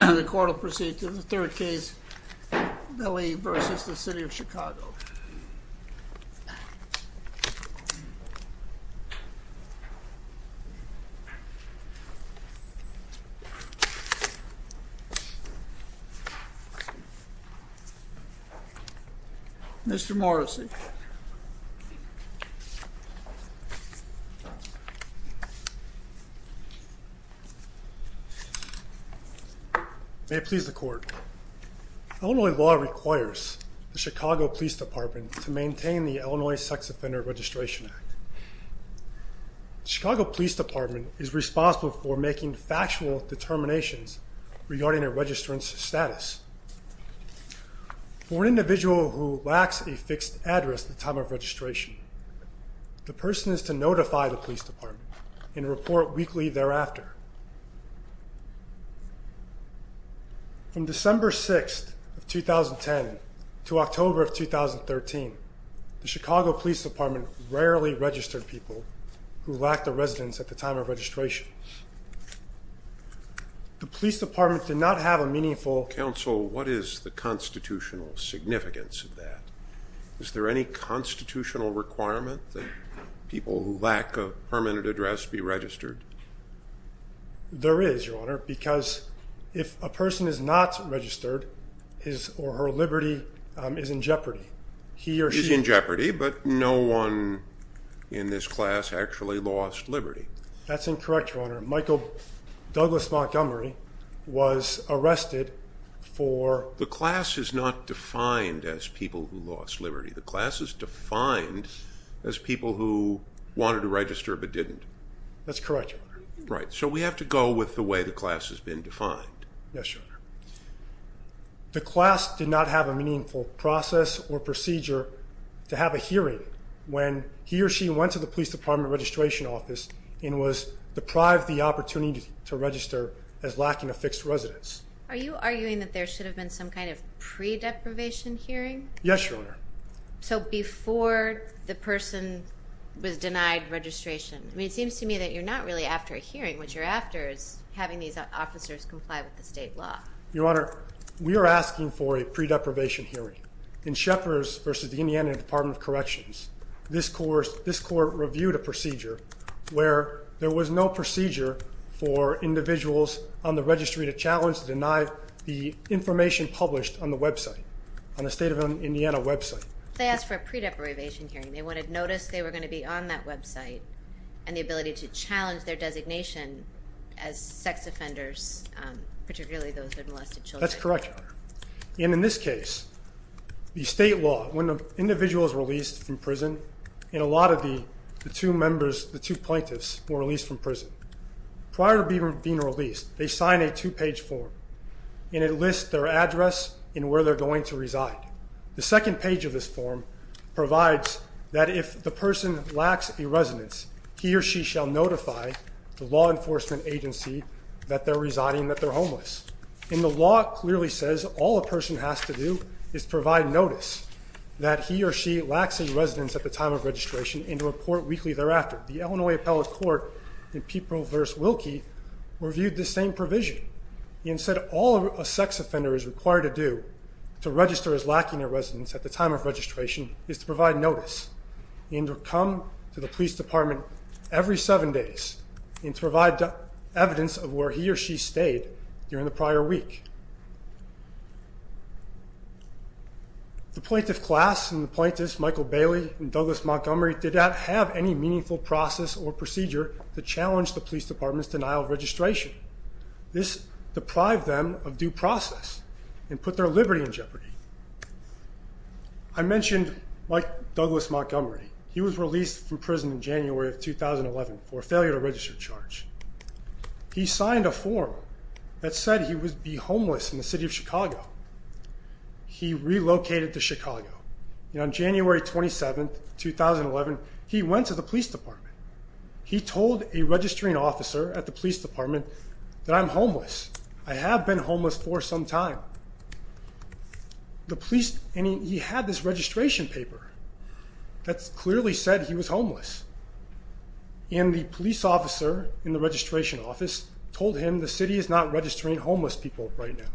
The court will proceed to the third case, Beley v. City of Chicago. Mr. Morrissey May it please the court, Illinois law requires the Chicago Police Department to maintain the Illinois Sex Offender Registration Act. The Chicago Police Department is responsible for making factual determinations regarding a registrant's status. For an individual who lacks a fixed address at the time of registration, the person is to notify the police department and report weekly thereafter. From December 6th of 2010 to October of 2013, the Chicago Police Department rarely registered people who lacked a residence at the time of registration. The police department did not have a meaningful... Counsel, what is the constitutional significance of that? Is there any constitutional requirement that people who lack a permanent address be registered? There is, Your Honor, because if a person is not registered, his or her liberty is in jeopardy. He or she is in jeopardy, but no one in this class actually lost liberty. That's incorrect, Your Honor. Michael Douglas Montgomery was arrested for... The class is not defined as people who lost liberty. The class is defined as people who wanted to register but didn't. That's correct, Your Honor. Right, so we have to go with the way the class has been defined. Yes, Your Honor. The class did not have a meaningful process or procedure to have a hearing when he or she went to the police department registration office and was deprived the opportunity to register as lacking a fixed residence. Are you arguing that there should have been some kind of pre-deprivation hearing? Yes, Your Honor. So before the person was denied registration, it seems to me that you're not really after a hearing. What you're after is having these officers comply with the state law. Your Honor, we are asking for a pre-deprivation hearing. In Shepard's v. Indiana Department of Corrections, this court reviewed a procedure where there was no procedure for individuals on the registry to challenge the information published on the website, on the state of Indiana website. They asked for a pre-deprivation hearing. They wanted notice they were going to be on that website and the ability to challenge their designation as sex offenders, particularly those with molested children. That's correct, Your Honor. In this case, the state law, when an individual is released from prison, and a lot of the two plaintiffs were released from prison, prior to being released, they sign a two-page form, and it lists their address and where they're going to reside. The second page of this form provides that if the person lacks a residence, he or she shall notify the law enforcement agency that they're residing, that they're homeless. And the law clearly says all a person has to do is provide notice that he or she lacks a residence at the time of registration and report weekly thereafter. The Illinois Appellate Court in People v. Wilkie reviewed this same provision and said all a sex offender is required to do to register as lacking a residence at the time of registration is to provide notice and to come to the police department every seven days and to provide evidence of where he or she stayed during the prior week. The plaintiff class and the plaintiffs, Michael Bailey and Douglas Montgomery, did not have any meaningful process or procedure to challenge the police department's denial of registration. This deprived them of due process and put their liberty in jeopardy. I mentioned Mike Douglas Montgomery. He was released from prison in January of 2011 for a failure to register charge. He signed a form that said he would be homeless in the city of Chicago. He relocated to Chicago. And on January 27, 2011, he went to the police department. He told a registering officer at the police department that I'm homeless. I have been homeless for some time. And he had this registration paper that clearly said he was homeless. And the police officer in the registration office told him the city is not registering homeless people right now.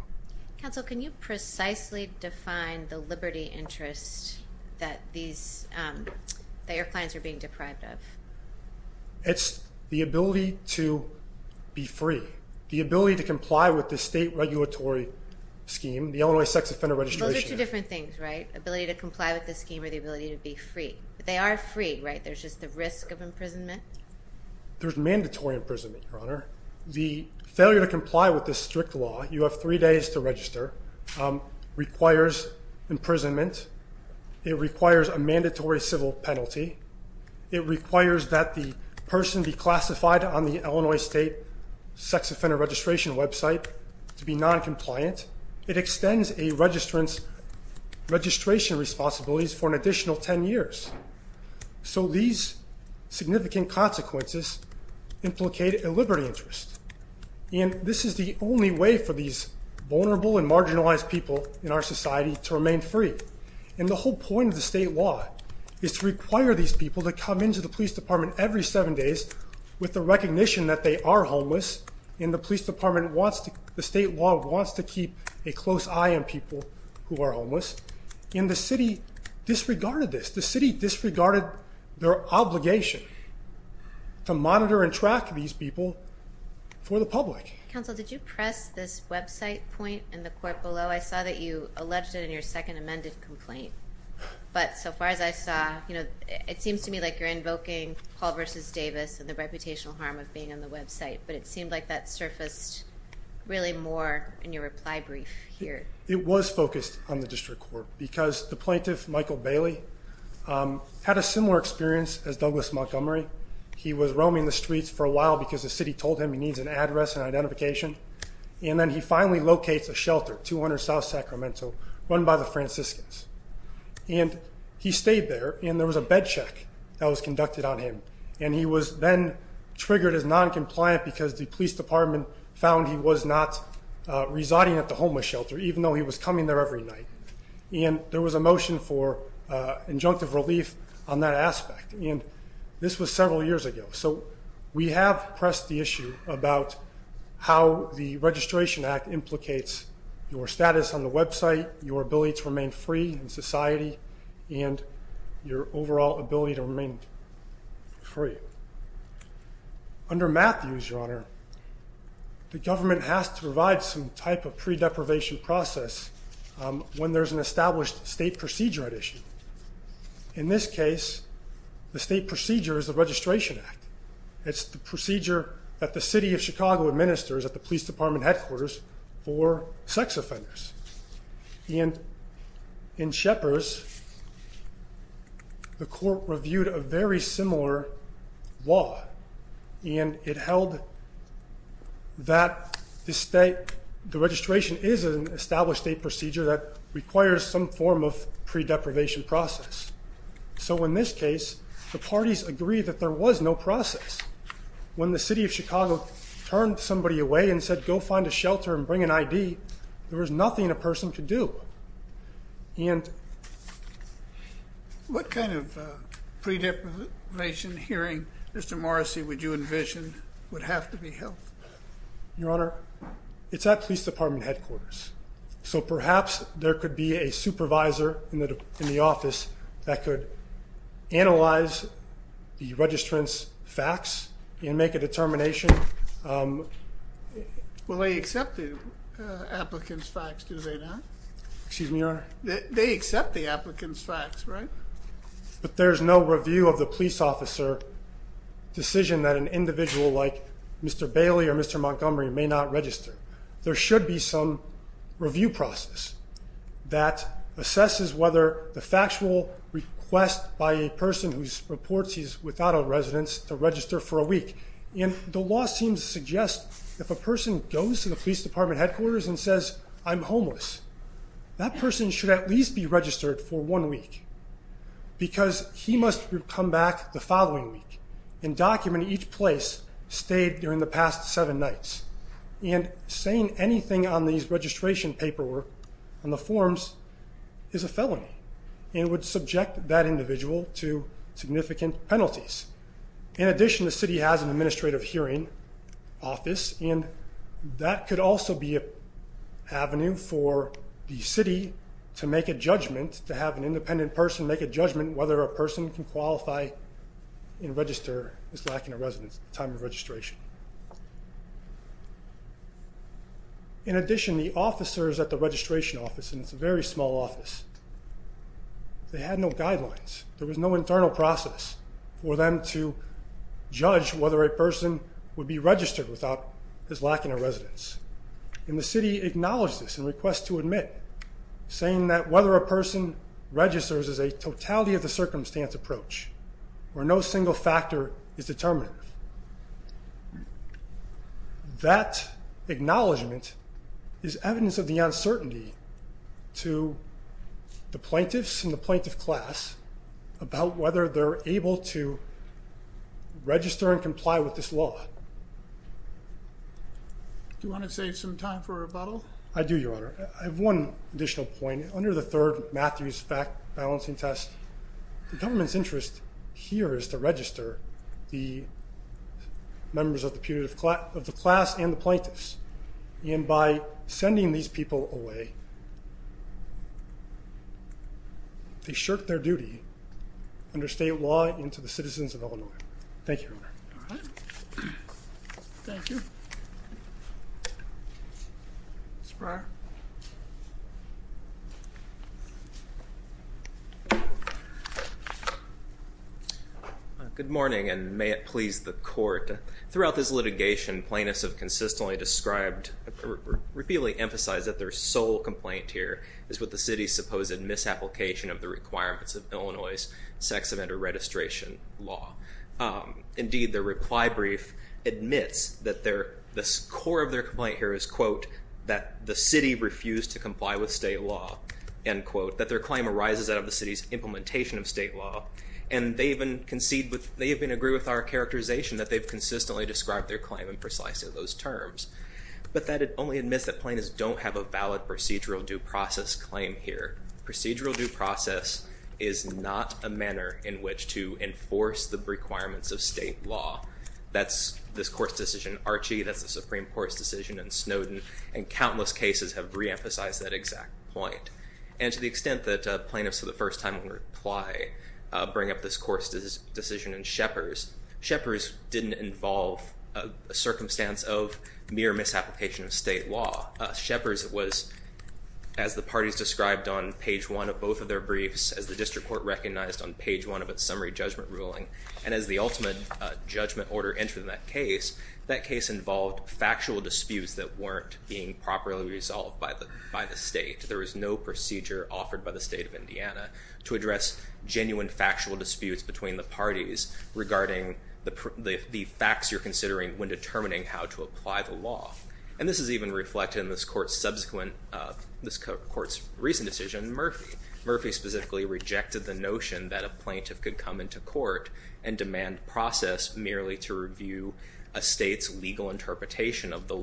Counsel, can you precisely define the liberty interest that your clients are being deprived of? It's the ability to be free, the ability to comply with the state regulatory scheme, the Illinois Sex Offender Registration Act. Those are two different things, right? Ability to comply with the scheme or the ability to be free. They are free, right? There's mandatory imprisonment, Your Honor. The failure to comply with this strict law, you have three days to register, requires imprisonment. It requires a mandatory civil penalty. It requires that the person be classified on the Illinois State Sex Offender Registration website to be noncompliant. It extends a registrant's registration responsibilities for an additional 10 years. So these significant consequences implicate a liberty interest. And this is the only way for these vulnerable and marginalized people in our society to remain free. And the whole point of the state law is to require these people to come into the police department every seven days with the recognition that they are homeless. And the police department wants to, the state law wants to keep a close eye on people who are homeless. And the city disregarded this. The city disregarded their obligation to monitor and track these people for the public. Counsel, did you press this website point in the court below? I saw that you alleged it in your second amended complaint. But so far as I saw, it seems to me like you're invoking Paul v. Davis and the reputational harm of being on the website. But it seemed like that surfaced really more in your reply brief here. It was focused on the district court because the plaintiff, Michael Bailey, had a similar experience as Douglas Montgomery. He was roaming the streets for a while because the city told him he needs an address and identification. And then he finally locates a shelter, 200 South Sacramento, run by the Franciscans. And he stayed there, and there was a bed check that was conducted on him. And he was then triggered as noncompliant because the police department found he was not residing at the homeless shelter, even though he was coming there every night. And there was a motion for injunctive relief on that aspect. And this was several years ago. So we have pressed the issue about how the Registration Act implicates your status on the website, your ability to remain free in society, and your overall ability to remain free. Under Matthews, Your Honor, the government has to provide some type of pre-deprivation process when there's an established state procedure at issue. In this case, the state procedure is the Registration Act. It's the procedure that the city of Chicago administers at the police department headquarters for sex offenders. And in Shepard's, the court reviewed a very similar law, and it held that the registration is an established state procedure that requires some form of pre-deprivation process. So in this case, the parties agreed that there was no process. When the city of Chicago turned somebody away and said, Go find a shelter and bring an ID, there was nothing a person could do. And what kind of pre-deprivation hearing, Mr. Morrissey, would you envision would have to be held? Your Honor, it's at police department headquarters. So perhaps there could be a supervisor in the office that could analyze the Well, they accept the applicant's facts, do they not? Excuse me, Your Honor? They accept the applicant's facts, right? But there's no review of the police officer decision that an individual like Mr. Bailey or Mr. Montgomery may not register. There should be some review process that assesses whether the factual request by a person who reports he's without a residence to register for a week. And the law seems to suggest if a person goes to the police department headquarters and says, I'm homeless, that person should at least be registered for one week because he must come back the following week and document each place stayed during the past seven nights. And saying anything on these registration paperwork on the forms is a felony and would subject that individual to significant penalties. In addition, the city has an administrative hearing office, and that could also be an avenue for the city to make a judgment, to have an independent person make a judgment whether a person can qualify and register as lacking a residence at the time of registration. In addition, the officers at the registration office, and it's a very small office, they had no guidelines. There was no internal process for them to judge whether a person would be registered without his lacking a residence. And the city acknowledged this and requests to admit, saying that whether a person registers is a totality of the circumstance approach where no single factor is determined. That acknowledgment is evidence of the uncertainty to the plaintiffs and the plaintiff class about whether they're able to register and comply with this law. Do you want to save some time for rebuttal? I do, Your Honor. I have one additional point. Under the third Matthews balancing test, the government's interest here is to register the members of the class and the plaintiffs. And by sending these people away, they shirk their duty under state law and to the citizens of Illinois. Thank you, Your Honor. All right. Thank you. Mr. Breyer. Good morning, and may it please the court. Throughout this litigation, plaintiffs have consistently described or repeatedly emphasized that their sole complaint here is with the city's supposed misapplication of the requirements of Illinois' sex offender registration law. Indeed, their reply brief admits that the core of their complaint here is, quote, that the city refused to comply with state law, end quote, that their claim arises out of the city's implementation of state law. And they even concede, they even agree with our characterization that they've consistently described their claim in precisely those terms. But that only admits that plaintiffs don't have a valid procedural due process claim here. Procedural due process is not a manner in which to enforce the requirements of state law. That's this court's decision in Archie, that's the Supreme Court's decision in Snowden, and countless cases have reemphasized that exact point. And to the extent that plaintiffs for the first time in reply bring up this court's decision in Shepard's, Shepard's didn't involve a circumstance of mere misapplication of state law. Shepard's was, as the parties described on page one of both of their briefs, as the district court recognized on page one of its summary judgment ruling, and as the ultimate judgment order entered that case, that case involved factual disputes that weren't being properly resolved by the state. There was no procedure offered by the state of Indiana to address genuine factual disputes between the parties regarding the facts you're considering when determining how to apply the law. And this is even reflected in this court's subsequent, this court's recent decision in Murphy. Murphy specifically rejected the notion that a plaintiff could come into court and demand process merely to review a state's legal interpretation of the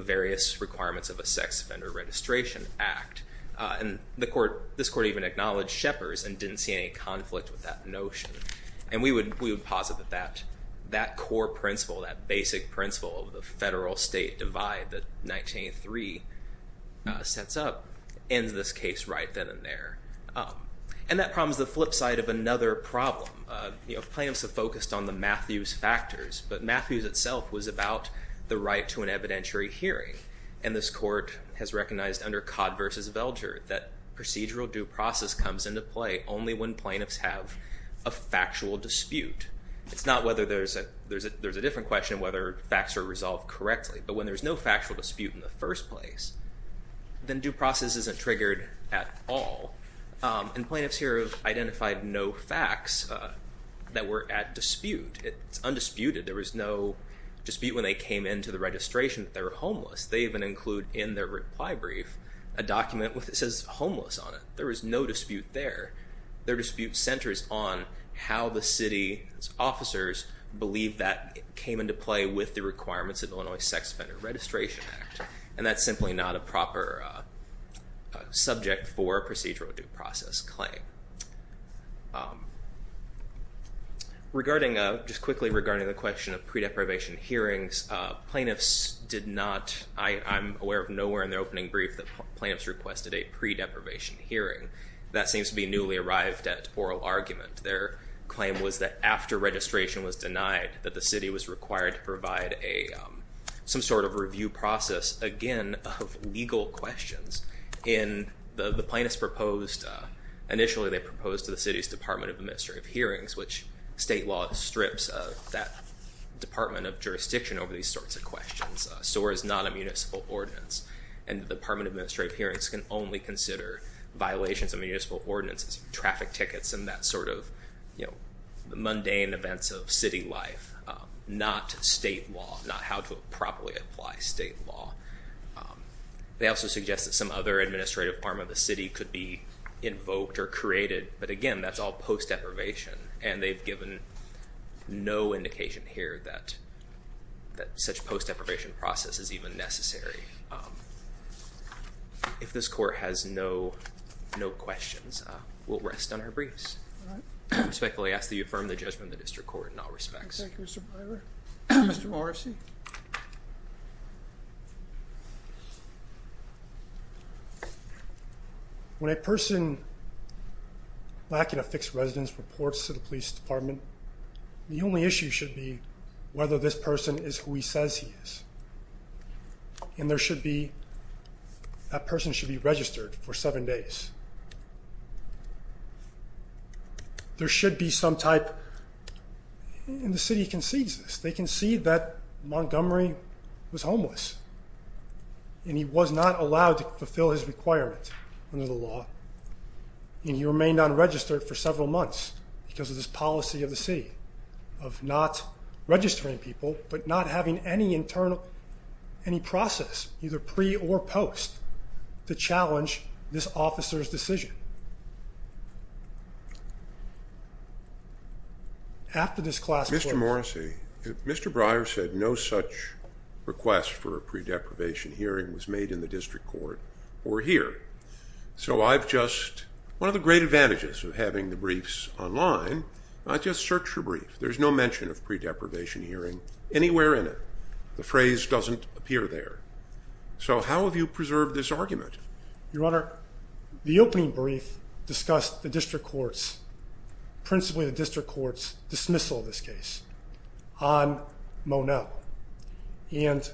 various requirements of a sex offender registration act. And the court, this court even acknowledged Shepard's and didn't see any conflict with that notion. And we would, we would posit that that, that core principle, that basic principle of the federal state divide that 1983 sets up ends this case right then and there. And that problem is the flip side of another problem. You know, plaintiffs have focused on the Matthews factors, but Matthews itself was about the right to an evidentiary hearing. And this court has recognized under Codd versus Velger, that procedural due process comes into play only when plaintiffs have a factual dispute. It's not whether there's a, there's a, there's a different question whether facts are resolved correctly, but when there's no factual dispute in the first place, then due process isn't triggered at all. And plaintiffs here have identified no facts that were at dispute. It's undisputed. There was no dispute when they came into the registration that they were homeless. They even include in their reply brief, a document with it says homeless on it. There was no dispute there. Their dispute centers on how the city officers believe that came into play with the requirements of Illinois sex offender registration act. And that's simply not a proper subject for procedural due process claim. Regarding, just quickly regarding the question of pre deprivation hearings, plaintiffs did not, I I'm aware of nowhere in the opening brief that plans requested a pre deprivation hearing that seems to be newly arrived at oral argument. Their claim was that after registration was denied that the city was required to provide a, some sort of review process again of legal questions in the, the plaintiff's proposed. Initially they proposed to the city's department of administrative hearings, which state law strips of that department of jurisdiction over these sorts of questions. SOAR is not a municipal ordinance and the department administrative hearings can only consider violations of municipal ordinances, traffic tickets, and that sort of, you know, mundane events of city life, not state law, not how to properly apply state law. They also suggest that some other administrative arm of the city could be invoked or created. But again, that's all post deprivation and they've given no indication here that that such post deprivation process is even necessary. If this court has no, no questions, we'll rest on our briefs. Respectfully ask that you affirm the judgment of the district court in all respects. Thank you, Mr. Morrissey. Okay. When a person lacking a fixed residence reports to the police department, the only issue should be whether this person is who he says he is. And there should be, that person should be registered for seven days. There should be some type in the city concedes this. They can see that Montgomery was homeless and he was not allowed to fulfill his requirements under the law. And he remained unregistered for several months because of this policy of the city of not registering people, but not having any internal, Okay. After this class, Mr. Morrissey, Mr. Breyer said no such request for a pre deprivation hearing was made in the district court or here. So I've just, one of the great advantages of having the briefs online, I just searched for brief. There's no mention of pre deprivation hearing anywhere in it. The phrase doesn't appear there. So how have you preserved this argument? Your Honor, the opening brief discussed the district courts, principally the district courts dismissal of this case on Mo. No. And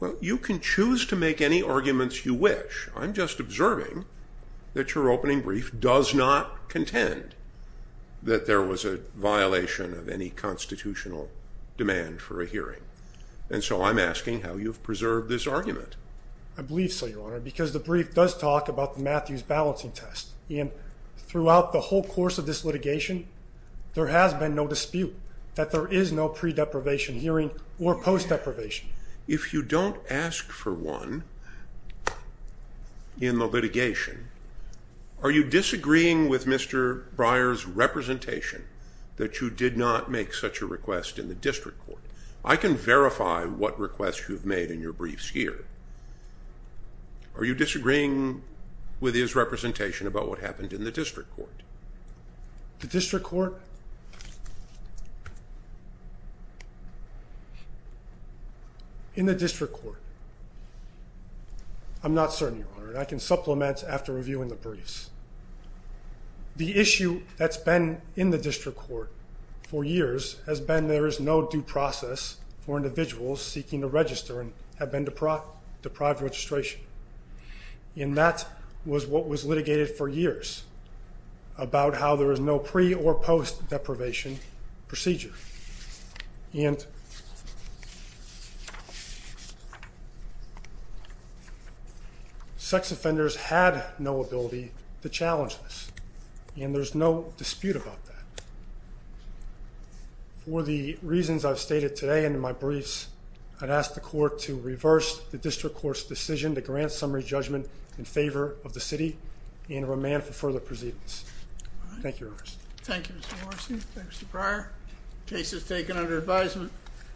well, you can choose to make any arguments you wish. I'm just observing that your opening brief does not contend that there was a violation of any constitutional demand for a hearing. And so I'm asking how you've preserved this argument. I believe so your Honor, because the brief does talk about the Matthews balancing test. And throughout the whole course of this litigation, there has been no dispute that there is no pre deprivation hearing or post deprivation. If you don't ask for one in the litigation, are you disagreeing with Mr. Breyer's representation that you did not make such a request in the district court? I can verify what requests you've made in your briefs here. Are you disagreeing with his representation about what happened in the district court? The district court in the district court. I'm not certain your Honor. And I can supplement after reviewing the briefs, the issue that's been in the district court for years has been, there is no due process for individuals seeking to register and have been deprived, deprived registration. And that was what was litigated for years about how there is no pre or post deprivation procedure. And sex offenders had no ability to challenge this. And there's no dispute about that for the reasons I've stated today. And in my briefs, I'd asked the court to reverse the district court's decision to grant summary judgment in favor of the city and remain for further proceedings. Thank you. Thank you. Mr. Morrissey. Thanks to prior cases taken under advisement.